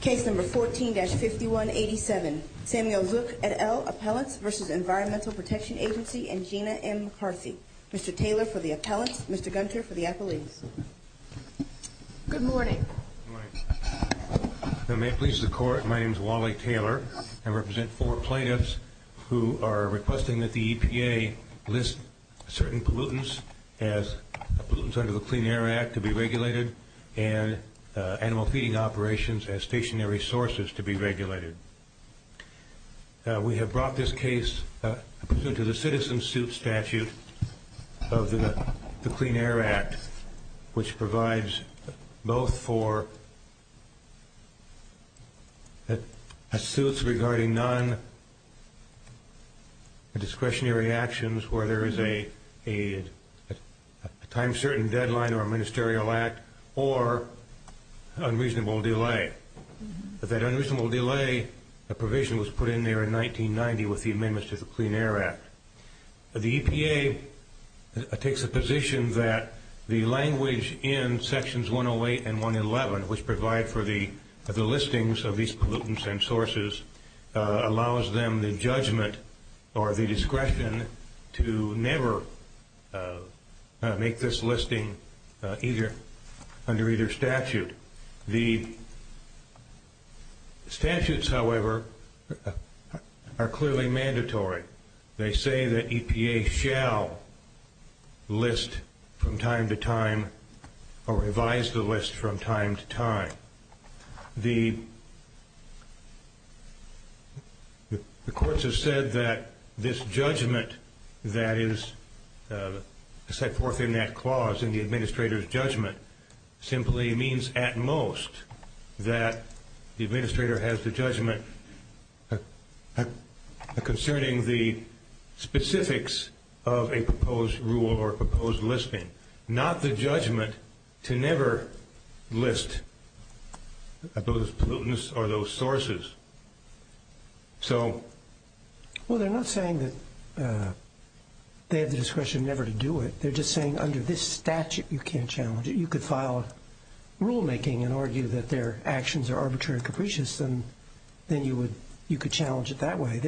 Case number 14-5187, Samuel Zook et al. Appellants v. Environmental Protection Agency and Gina M. McCarthy. Mr. Taylor for the appellants, Mr. Gunter for the appellees. Good morning. Good morning. If it may please the court, my name is Wally Taylor. I represent four plaintiffs who are requesting that the EPA list certain pollutants as pollutants under the Clean Air Act to be regulated and animal feeding operations as stationary sources to be regulated. We have brought this case to the citizen suit statute of the Clean Air Act, which provides both for suits regarding non-discretionary actions where there is a time-certain deadline or a ministerial act or unreasonable delay. That unreasonable delay provision was put in there in 1990 with the amendments to the Clean Air Act. The EPA takes the position that the language in sections 108 and 111, which provide for the listings of these pollutants and sources, allows them the judgment or the discretion to never make this listing under either statute. The statutes, however, are clearly mandatory. They say that EPA shall list from time to time or revise the list from time to time. The courts have said that this judgment that is set forth in that clause, in the administrator's judgment, simply means at most that the administrator has the judgment concerning the specifics of a proposed rule or a proposed listing. Not the judgment to never list those pollutants or those sources. Well, they're not saying that they have the discretion never to do it. They're just saying under this statute you can't challenge it. You could file a rulemaking and argue that their actions are arbitrary and capricious, and then you could challenge it that way.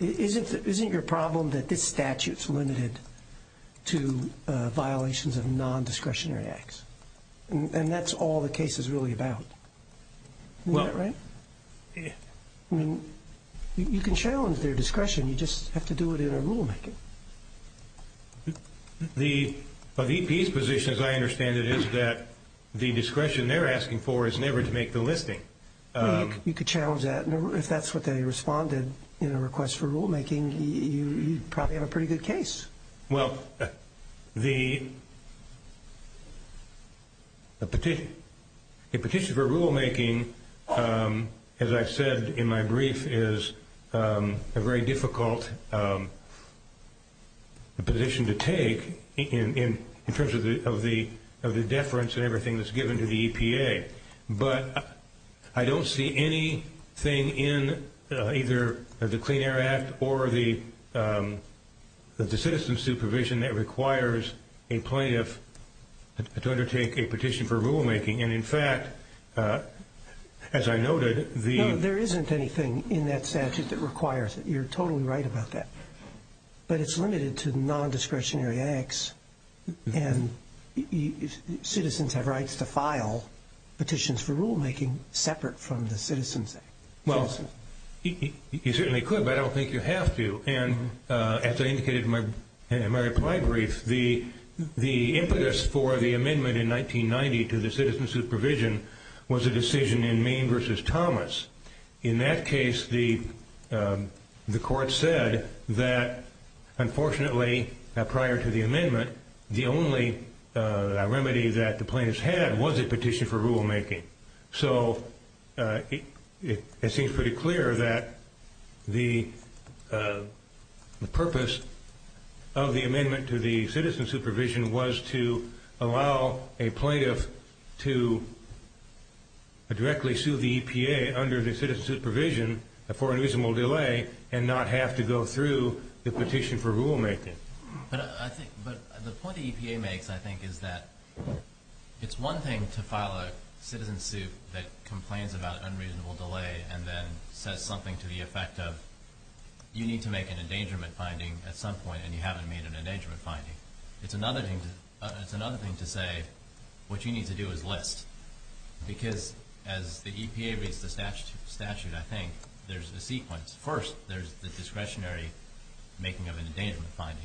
Isn't your problem that this statute is limited to violations of non-discretionary acts? And that's all the case is really about. Isn't that right? You can challenge their discretion. You just have to do it in a rulemaking. The EPA's position, as I understand it, is that the discretion they're asking for is never to make the listing. You could challenge that. If that's what they responded in a request for rulemaking, you probably have a pretty good case. Well, the petition for rulemaking, as I've said in my brief, is a very difficult position to take in terms of the deference and everything that's given to the EPA. But I don't see anything in either the Clean Air Act or the citizen supervision that requires a plaintiff to undertake a petition for rulemaking. And in fact, as I noted, the... Well, you certainly could, but I don't think you have to. And as I indicated in my reply brief, the impetus for the amendment in 1990 to the citizen supervision was a decision in Maine v. Thomas. In that case, the court said that, unfortunately, prior to the amendment, the only remedy that the plaintiffs had was a petition for rulemaking. So it seems pretty clear that the purpose of the amendment to the citizen supervision was to allow a plaintiff to directly sue the EPA under the citizen supervision for unreasonable delay and not have to go through the petition for rulemaking. But the point the EPA makes, I think, is that it's one thing to file a citizen suit that complains about unreasonable delay and then says something to the effect of, you need to make an endangerment finding at some point and you haven't made an endangerment finding. It's another thing to say, what you need to do is list. Because as the EPA reads the statute, I think, there's a sequence. First, there's the discretionary making of an endangerment finding,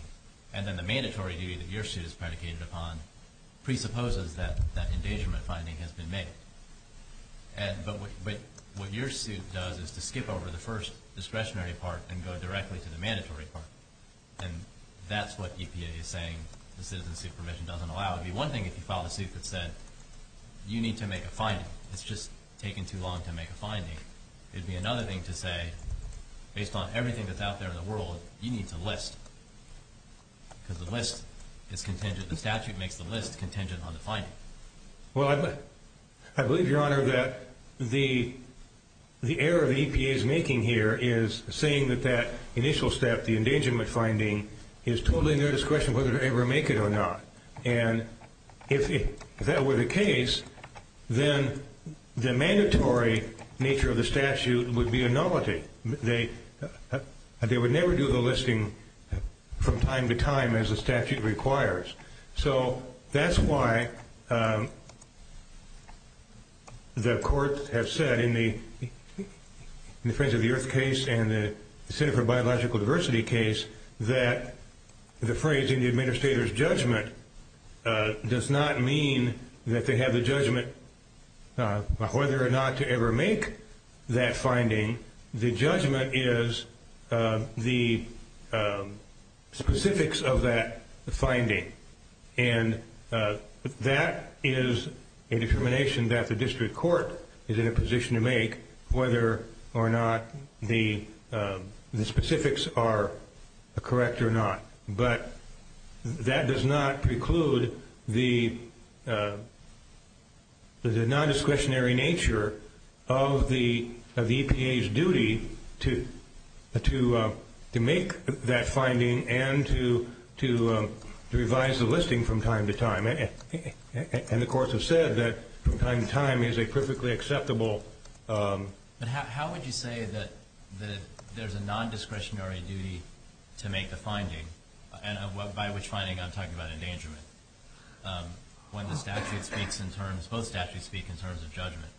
and then the mandatory duty that your suit is predicated upon presupposes that that endangerment finding has been made. But what your suit does is to skip over the first discretionary part and go directly to the mandatory part. And that's what EPA is saying the citizen supervision doesn't allow. It would be one thing if you filed a suit that said, you need to make a finding. It's just taking too long to make a finding. It would be another thing to say, based on everything that's out there in the world, you need to list. Because the list is contingent. The statute makes the list contingent on the finding. Well, I believe, Your Honor, that the error the EPA is making here is saying that that initial step, the endangerment finding, is totally in their discretion whether to ever make it or not. And if that were the case, then the mandatory nature of the statute would be a novelty. They would never do the listing from time to time as the statute requires. So that's why the courts have said in the Friends of the Earth case and the Center for Biological Diversity case that the phrase in the Administrator's judgment does not mean that they have the judgment whether or not to ever make that finding. The judgment is the specifics of that finding. And that is a determination that the district court is in a position to make whether or not the specifics are correct or not. But that does not preclude the non-discretionary nature of the EPA's duty to make that finding and to revise the listing from time to time. And the courts have said that from time to time is a perfectly acceptable But how would you say that there's a non-discretionary duty to make the finding, and by which finding I'm talking about endangerment, when the statute speaks in terms, both statutes speak in terms of judgment,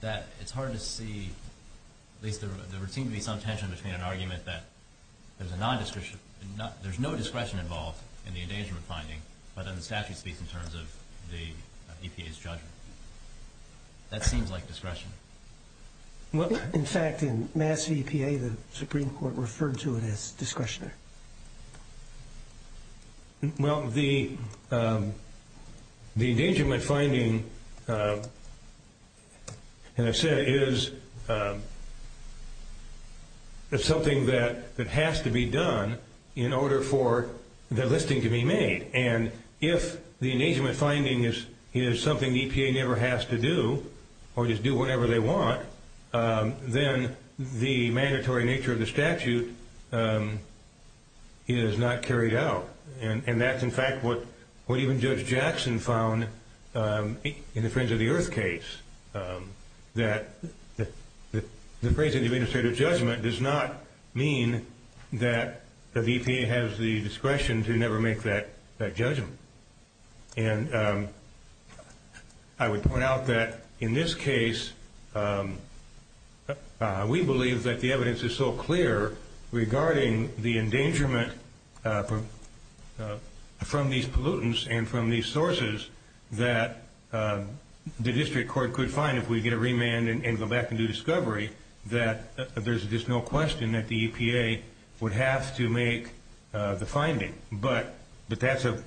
that it's hard to see, at least there would seem to be some tension between an argument that there's a non-discretion, there's no discretion involved in the endangerment finding, but then the statute speaks in terms of the EPA's judgment. That seems like discretion. In fact, in Mass. EPA, the Supreme Court referred to it as discretionary. Well, the endangerment finding, as I said, is something that has to be done in order for the listing to be made. And if the endangerment finding is something the EPA never has to do, or just do whatever they want, then the mandatory nature of the statute is not carried out. And that's, in fact, what even Judge Jackson found in the Friends of the Earth case, that the phrase that the administrative judgment does not mean that the EPA has the discretion to never make that judgment. And I would point out that in this case, we believe that the evidence is so clear regarding the endangerment from these pollutants and from these sources that the district court could find if we get a remand and go back and do discovery, that there's just no question that the EPA would have to make the finding. But that's a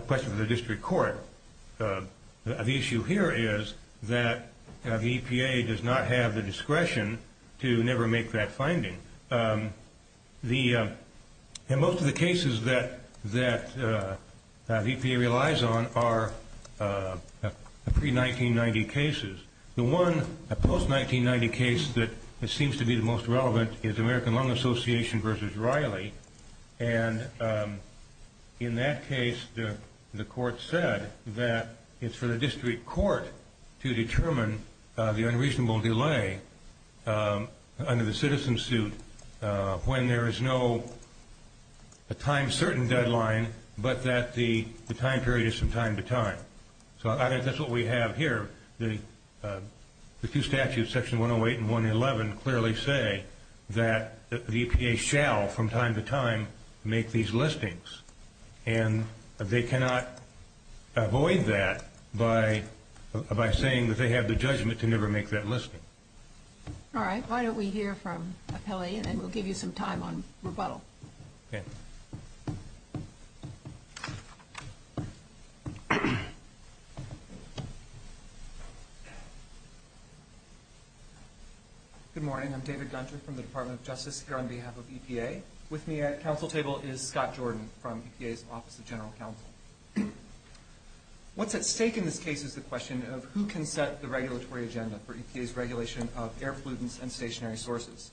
question for the district court. The issue here is that the EPA does not have the discretion to never make that finding. And most of the cases that EPA relies on are pre-1990 cases. The one post-1990 case that seems to be the most relevant is American Lung Association v. Riley. And in that case, the court said that it's for the district court to determine the unreasonable delay under the citizen suit when there is no time-certain deadline, but that the time period is from time to time. So I think that's what we have here. The two statutes, Section 108 and 111, clearly say that the EPA shall, from time to time, make these listings. And they cannot avoid that by saying that they have the judgment to never make that listing. All right. Why don't we hear from Apelli, and then we'll give you some time on rebuttal. Okay. Good morning. I'm David Gunter from the Department of Justice here on behalf of EPA. With me at council table is Scott Jordan from EPA's Office of General Counsel. What's at stake in this case is the question of who can set the regulatory agenda for EPA's regulation of air pollutants and stationary sources.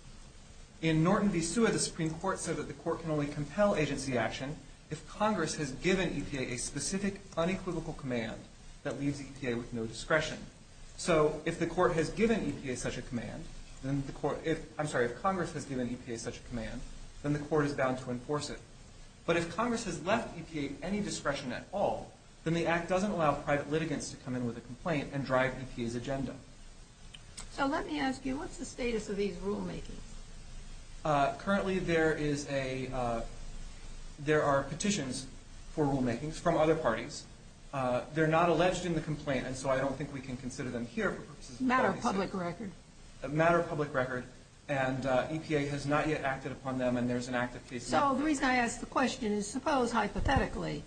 In Norton v. Sua, the Supreme Court said that the court can only compel agency action if Congress has given EPA a specific unequivocal command that leaves EPA with no discretion. So if Congress has given EPA such a command, then the court is bound to enforce it. But if Congress has left EPA any discretion at all, then the Act doesn't allow private litigants to come in with a complaint and drive EPA's agenda. So let me ask you, what's the status of these rulemakings? Currently, there are petitions for rulemakings from other parties. They're not alleged in the complaint, and so I don't think we can consider them here for purposes of privacy. Matter of public record. Matter of public record. And EPA has not yet acted upon them, and there's an active case now. So the reason I ask the question is suppose, hypothetically,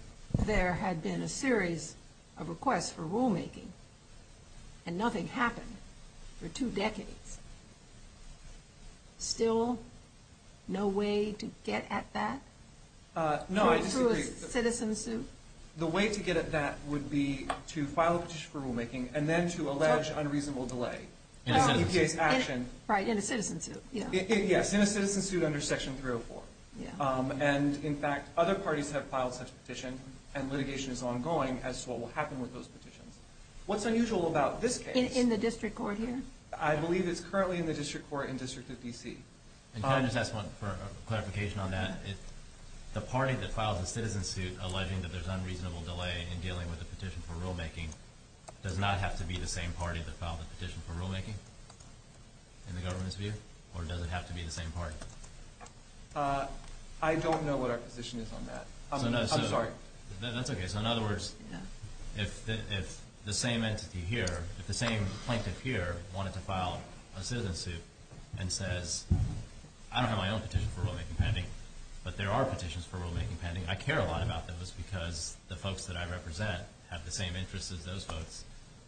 there had been a series of requests for rulemaking, and nothing happened for two decades. Still no way to get at that? No, I disagree. Through a citizen suit? The way to get at that would be to file a petition for rulemaking and then to allege unreasonable delay in EPA's action. Right, in a citizen suit, yeah. Yes, in a citizen suit under Section 304. And in fact, other parties have filed such a petition, and litigation is ongoing as to what will happen with those petitions. What's unusual about this case? In the district court here? I believe it's currently in the district court in District of D.C. And can I just ask one clarification on that? The party that files a citizen suit alleging that there's unreasonable delay in dealing with a petition for rulemaking does not have to be the same party that filed the petition for rulemaking in the government's view? Or does it have to be the same party? I don't know what our position is on that. I'm sorry. That's okay. So in other words, if the same entity here, if the same plaintiff here wanted to file a citizen suit and says, I don't have my own petition for rulemaking pending, but there are petitions for rulemaking pending, I care a lot about those because the folks that I represent have the same interests as those folks.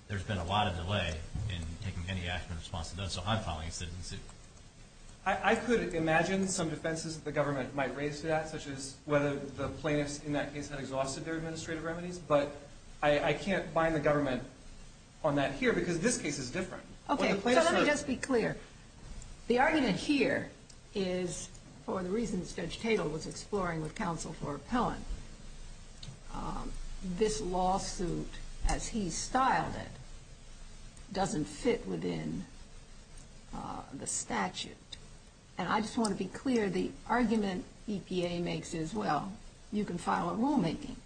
There's been a lot of delay in taking any action in response to those. So I'm filing a citizen suit. I could imagine some defenses that the government might raise to that, such as whether the plaintiffs in that case had exhausted their administrative remedies. But I can't bind the government on that here because this case is different. Okay. So let me just be clear. The argument here is, for the reasons Judge Tatel was exploring with counsel for Appellant, this lawsuit as he styled it doesn't fit within the statute. And I just want to be clear, the argument EPA makes is, well, you can file a rulemaking.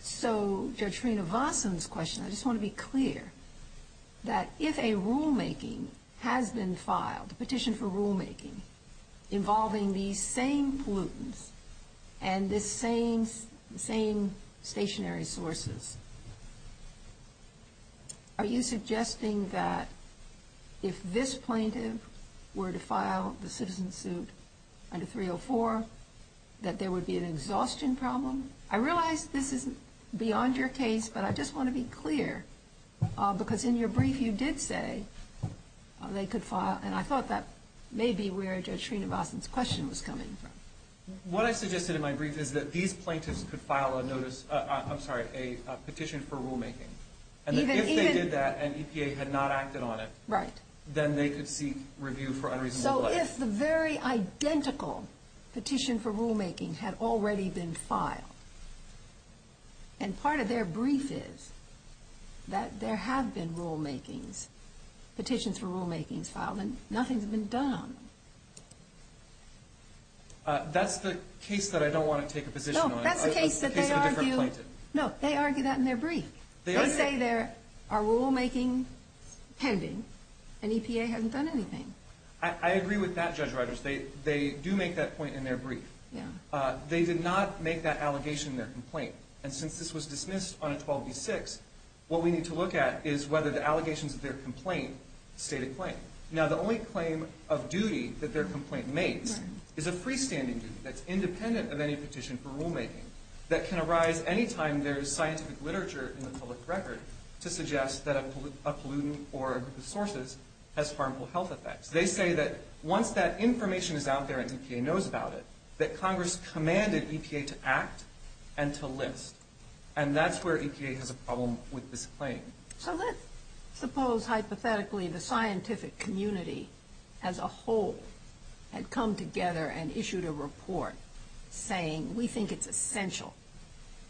So Judge Srinivasan's question, I just want to be clear, that if a rulemaking has been filed, a petition for rulemaking involving these same pollutants and the same stationary sources, are you suggesting that if this plaintiff were to file the citizen suit under 304, that there would be an exhaustion problem? I realize this isn't beyond your case, but I just want to be clear. Because in your brief you did say they could file, and I thought that may be where Judge Srinivasan's question was coming from. What I suggested in my brief is that these plaintiffs could file a notice, I'm sorry, a petition for rulemaking. And that if they did that and EPA had not acted on it, then they could seek review for unreasonable action. So if the very identical petition for rulemaking had already been filed, and part of their brief is that there have been rulemakings, petitions for rulemakings filed, and nothing's been done on them. That's the case that I don't want to take a position on. No, that's the case that they argue. No, they argue that in their brief. They say there are rulemakings pending, and EPA hasn't done anything. I agree with that, Judge Rodgers. They do make that point in their brief. They did not make that allegation in their complaint. And since this was dismissed on a 12b-6, what we need to look at is whether the allegations of their complaint state a claim. Now, the only claim of duty that their complaint makes is a freestanding duty that's independent of any petition for rulemaking that can arise any time there is scientific literature in the public record to suggest that a pollutant or a group of sources has harmful health effects. They say that once that information is out there and EPA knows about it, that Congress commanded EPA to act and to list. And that's where EPA has a problem with this claim. So let's suppose, hypothetically, the scientific community as a whole had come together and issued a report saying, we think it's essential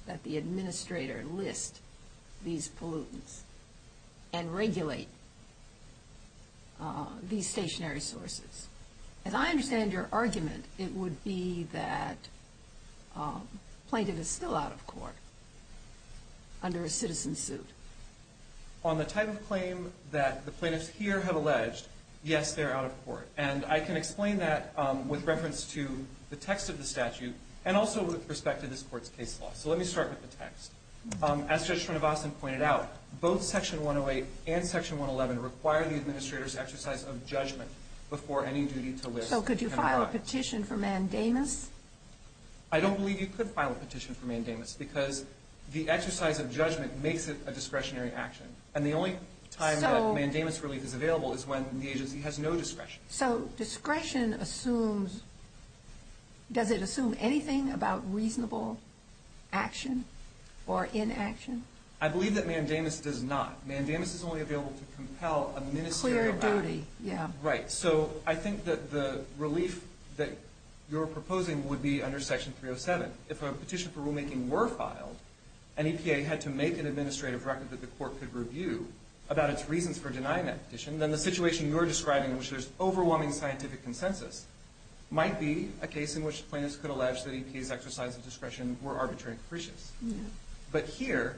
that the administrator list these pollutants and regulate these stationary sources. As I understand your argument, it would be that the plaintiff is still out of court under a citizen suit. On the type of claim that the plaintiffs here have alleged, yes, they're out of court. And I can explain that with reference to the text of the statute and also with respect to this Court's case law. So let me start with the text. As Judge Srinivasan pointed out, both Section 108 and Section 111 require the administrator's exercise of judgment before any duty to list can arise. So could you file a petition for mandamus? I don't believe you could file a petition for mandamus because the exercise of judgment makes it a discretionary action. And the only time that mandamus relief is available is when the agency has no discretion. So discretion assumes, does it assume anything about reasonable action or inaction? I believe that mandamus does not. Mandamus is only available to compel a ministerial act. Clear duty, yeah. Right. So I think that the relief that you're proposing would be under Section 307. If a petition for rulemaking were filed, and EPA had to make an administrative record that the Court could review about its reasons for denying that petition, then the situation you're describing, in which there's overwhelming scientific consensus, might be a case in which plaintiffs could allege that EPA's exercise of discretion were arbitrary and capricious. But here,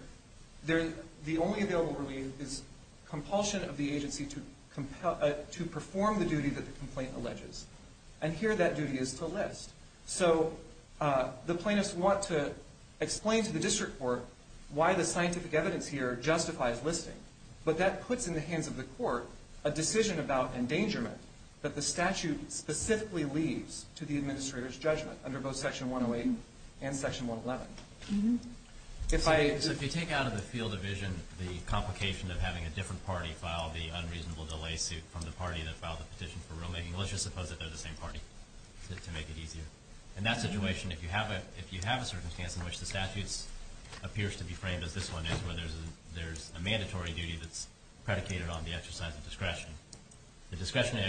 the only available relief is compulsion of the agency to perform the duty that the complaint alleges. And here that duty is to list. So the plaintiffs want to explain to the district court why the scientific evidence here justifies listing. But that puts in the hands of the Court a decision about endangerment that the statute specifically leaves to the administrator's judgment under both Section 108 and Section 111. So if you take out of the field of vision the complication of having a different party file the unreasonable delay suit from the party that filed the petition for rulemaking, let's just suppose that they're the same party, to make it easier. In that situation, if you have a circumstance in which the statute appears to be framed as this one is, where there's a mandatory duty that's predicated on the exercise of discretion, the discretionary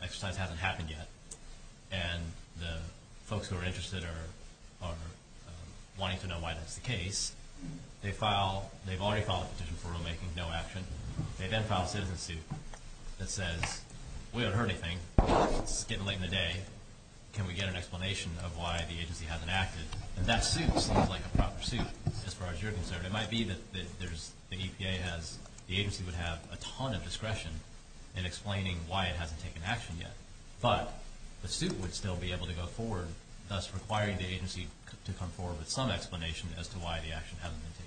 exercise hasn't happened yet, and the folks who are interested are wanting to know why that's the case. They've already filed a petition for rulemaking, no action. They then file a citizen suit that says, we haven't heard anything, it's getting late in the day, can we get an explanation of why the agency hasn't acted? And that suit seems like a proper suit as far as you're concerned. It might be that the EPA has, the agency would have a ton of discretion in explaining why it hasn't taken action yet, but the suit would still be able to go forward, thus requiring the agency to come forward with some explanation as to why the action hasn't been taken.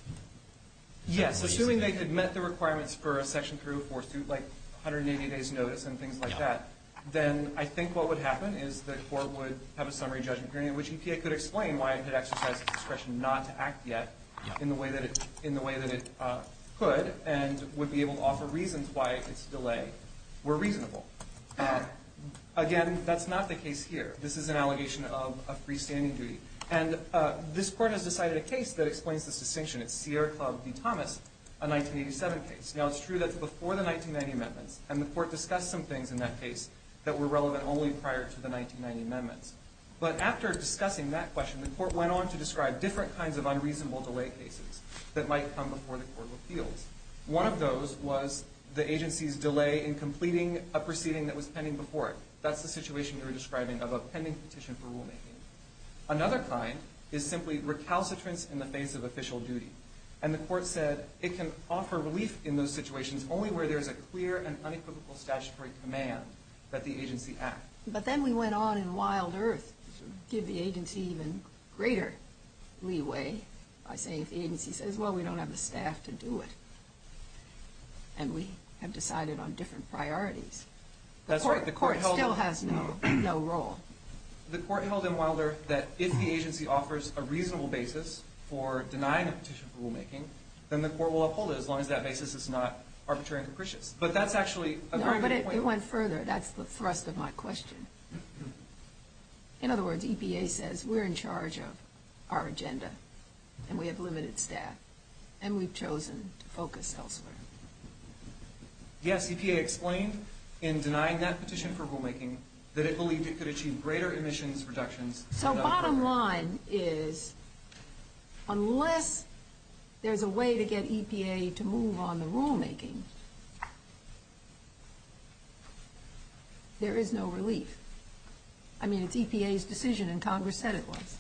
Yes, assuming they had met the requirements for a section 304 suit, like 180 days notice and things like that, then I think what would happen is the court would have a summary judgment hearing in which EPA could explain why it had exercised its discretion not to act yet in the way that it could, and would be able to offer reasons why its delay were reasonable. Again, that's not the case here. This is an allegation of a freestanding duty. And this court has decided a case that explains this distinction. It's Sierra Club v. Thomas, a 1987 case. Now, it's true that it's before the 1990 amendments, and the court discussed some things in that case that were relevant only prior to the 1990 amendments. But after discussing that question, the court went on to describe different kinds of unreasonable delay cases that might come before the court of appeals. One of those was the agency's delay in completing a proceeding that was pending before it. That's the situation you were describing of a pending petition for rulemaking. Another kind is simply recalcitrance in the face of official duty. And the court said it can offer relief in those situations only where there's a clear and unequivocal statutory command that the agency act. But then we went on in wild earth to give the agency even greater leeway by saying if the agency says, well, we don't have the staff to do it, and we have decided on different priorities. That's right. The court still has no role. The court held in wild earth that if the agency offers a reasonable basis for denying a petition for rulemaking, then the court will uphold it as long as that basis is not arbitrary and capricious. But that's actually a very good point. No, but it went further. That's the thrust of my question. In other words, EPA says we're in charge of our agenda, and we have limited staff, and we've chosen to focus elsewhere. Yes, EPA explained in denying that petition for rulemaking that it believed it could achieve greater emissions reductions. So bottom line is unless there's a way to get EPA to move on the rulemaking, there is no relief. I mean, it's EPA's decision, and Congress said it was.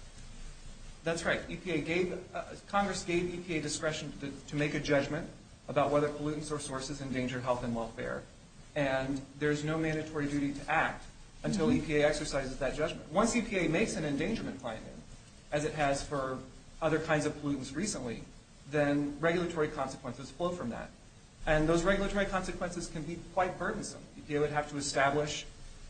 That's right. Congress gave EPA discretion to make a judgment about whether pollutants or sources endanger health and welfare. And there's no mandatory duty to act until EPA exercises that judgment. Once EPA makes an endangerment finding, as it has for other kinds of pollutants recently, then regulatory consequences flow from that. And those regulatory consequences can be quite burdensome. EPA would have to establish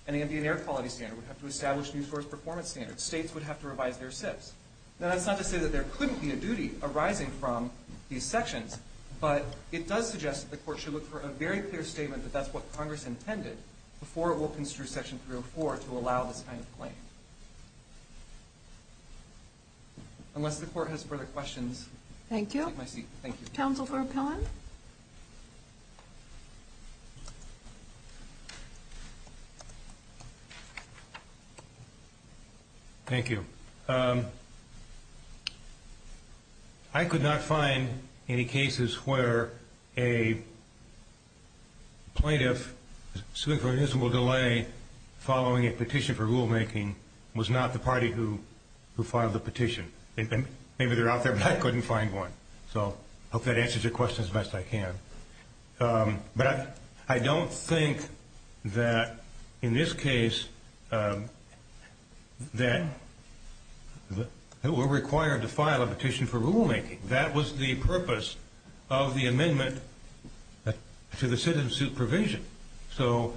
an ambient air quality standard. It would have to establish new source performance standards. States would have to revise their SIPs. Now, that's not to say that there couldn't be a duty arising from these sections, but it does suggest that the Court should look for a very clear statement that that's what Congress intended before it will construe Section 304 to allow this kind of claim. Unless the Court has further questions, I'll take my seat. Thank you. Counsel for Appeal? Thank you. I could not find any cases where a plaintiff suing for an invisible delay following a petition for rulemaking was not the party who filed the petition. Maybe they're out there, but I couldn't find one. So I hope that answers your question as best I can. But I don't think that in this case that it were required to file a petition for rulemaking. That was the purpose of the amendment to the sentence supervision. So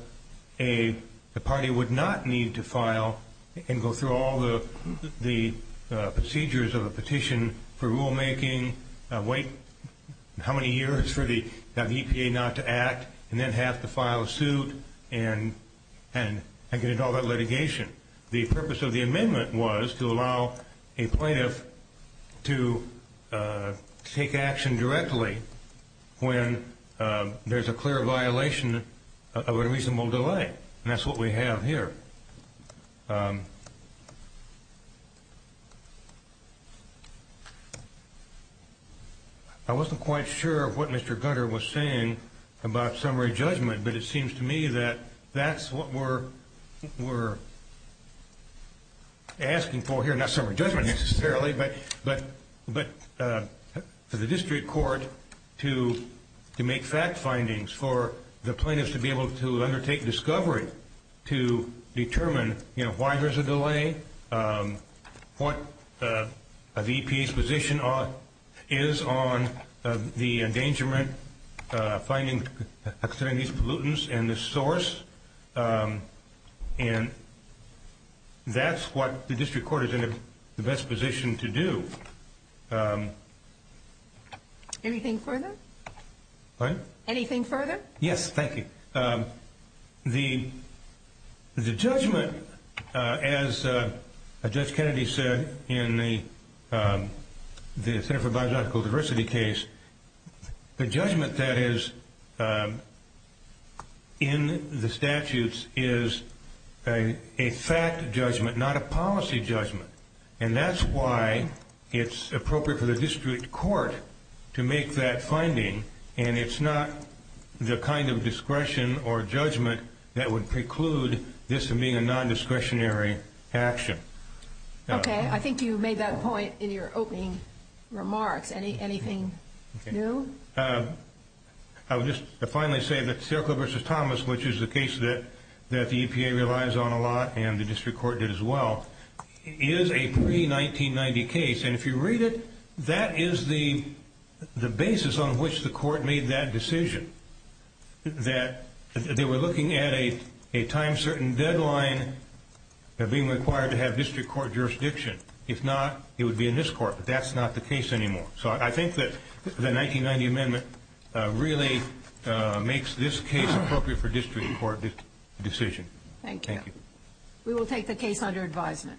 a party would not need to file and go through all the procedures of a petition for rulemaking, wait how many years for the EPA not to act, and then have to file a suit and get into all that litigation. The purpose of the amendment was to allow a plaintiff to take action directly when there's a clear violation of a reasonable delay. And that's what we have here. I wasn't quite sure of what Mr. Gutter was saying about summary judgment, but it seems to me that that's what we're asking for here, not summary judgment necessarily, but for the district court to make fact findings for the plaintiffs to be able to undertake discovery to determine why there's a delay, what the EPA's position is on the endangerment finding, and the source, and that's what the district court is in the best position to do. Anything further? Pardon? Anything further? Yes, thank you. The judgment, as Judge Kennedy said in the Center for Biological Diversity case, the judgment that is in the statutes is a fact judgment, not a policy judgment. And that's why it's appropriate for the district court to make that finding, and it's not the kind of discretion or judgment that would preclude this from being a nondiscretionary action. Okay. I think you made that point in your opening remarks. Anything new? I would just finally say that Sierra Club v. Thomas, which is a case that the EPA relies on a lot, and the district court did as well, is a pre-1990 case. And if you read it, that is the basis on which the court made that decision, that they were looking at a time-certain deadline of being required to have district court jurisdiction. If not, it would be in this court, but that's not the case anymore. So I think that the 1990 amendment really makes this case appropriate for district court decision. Thank you. Thank you. We will take the case under advisement.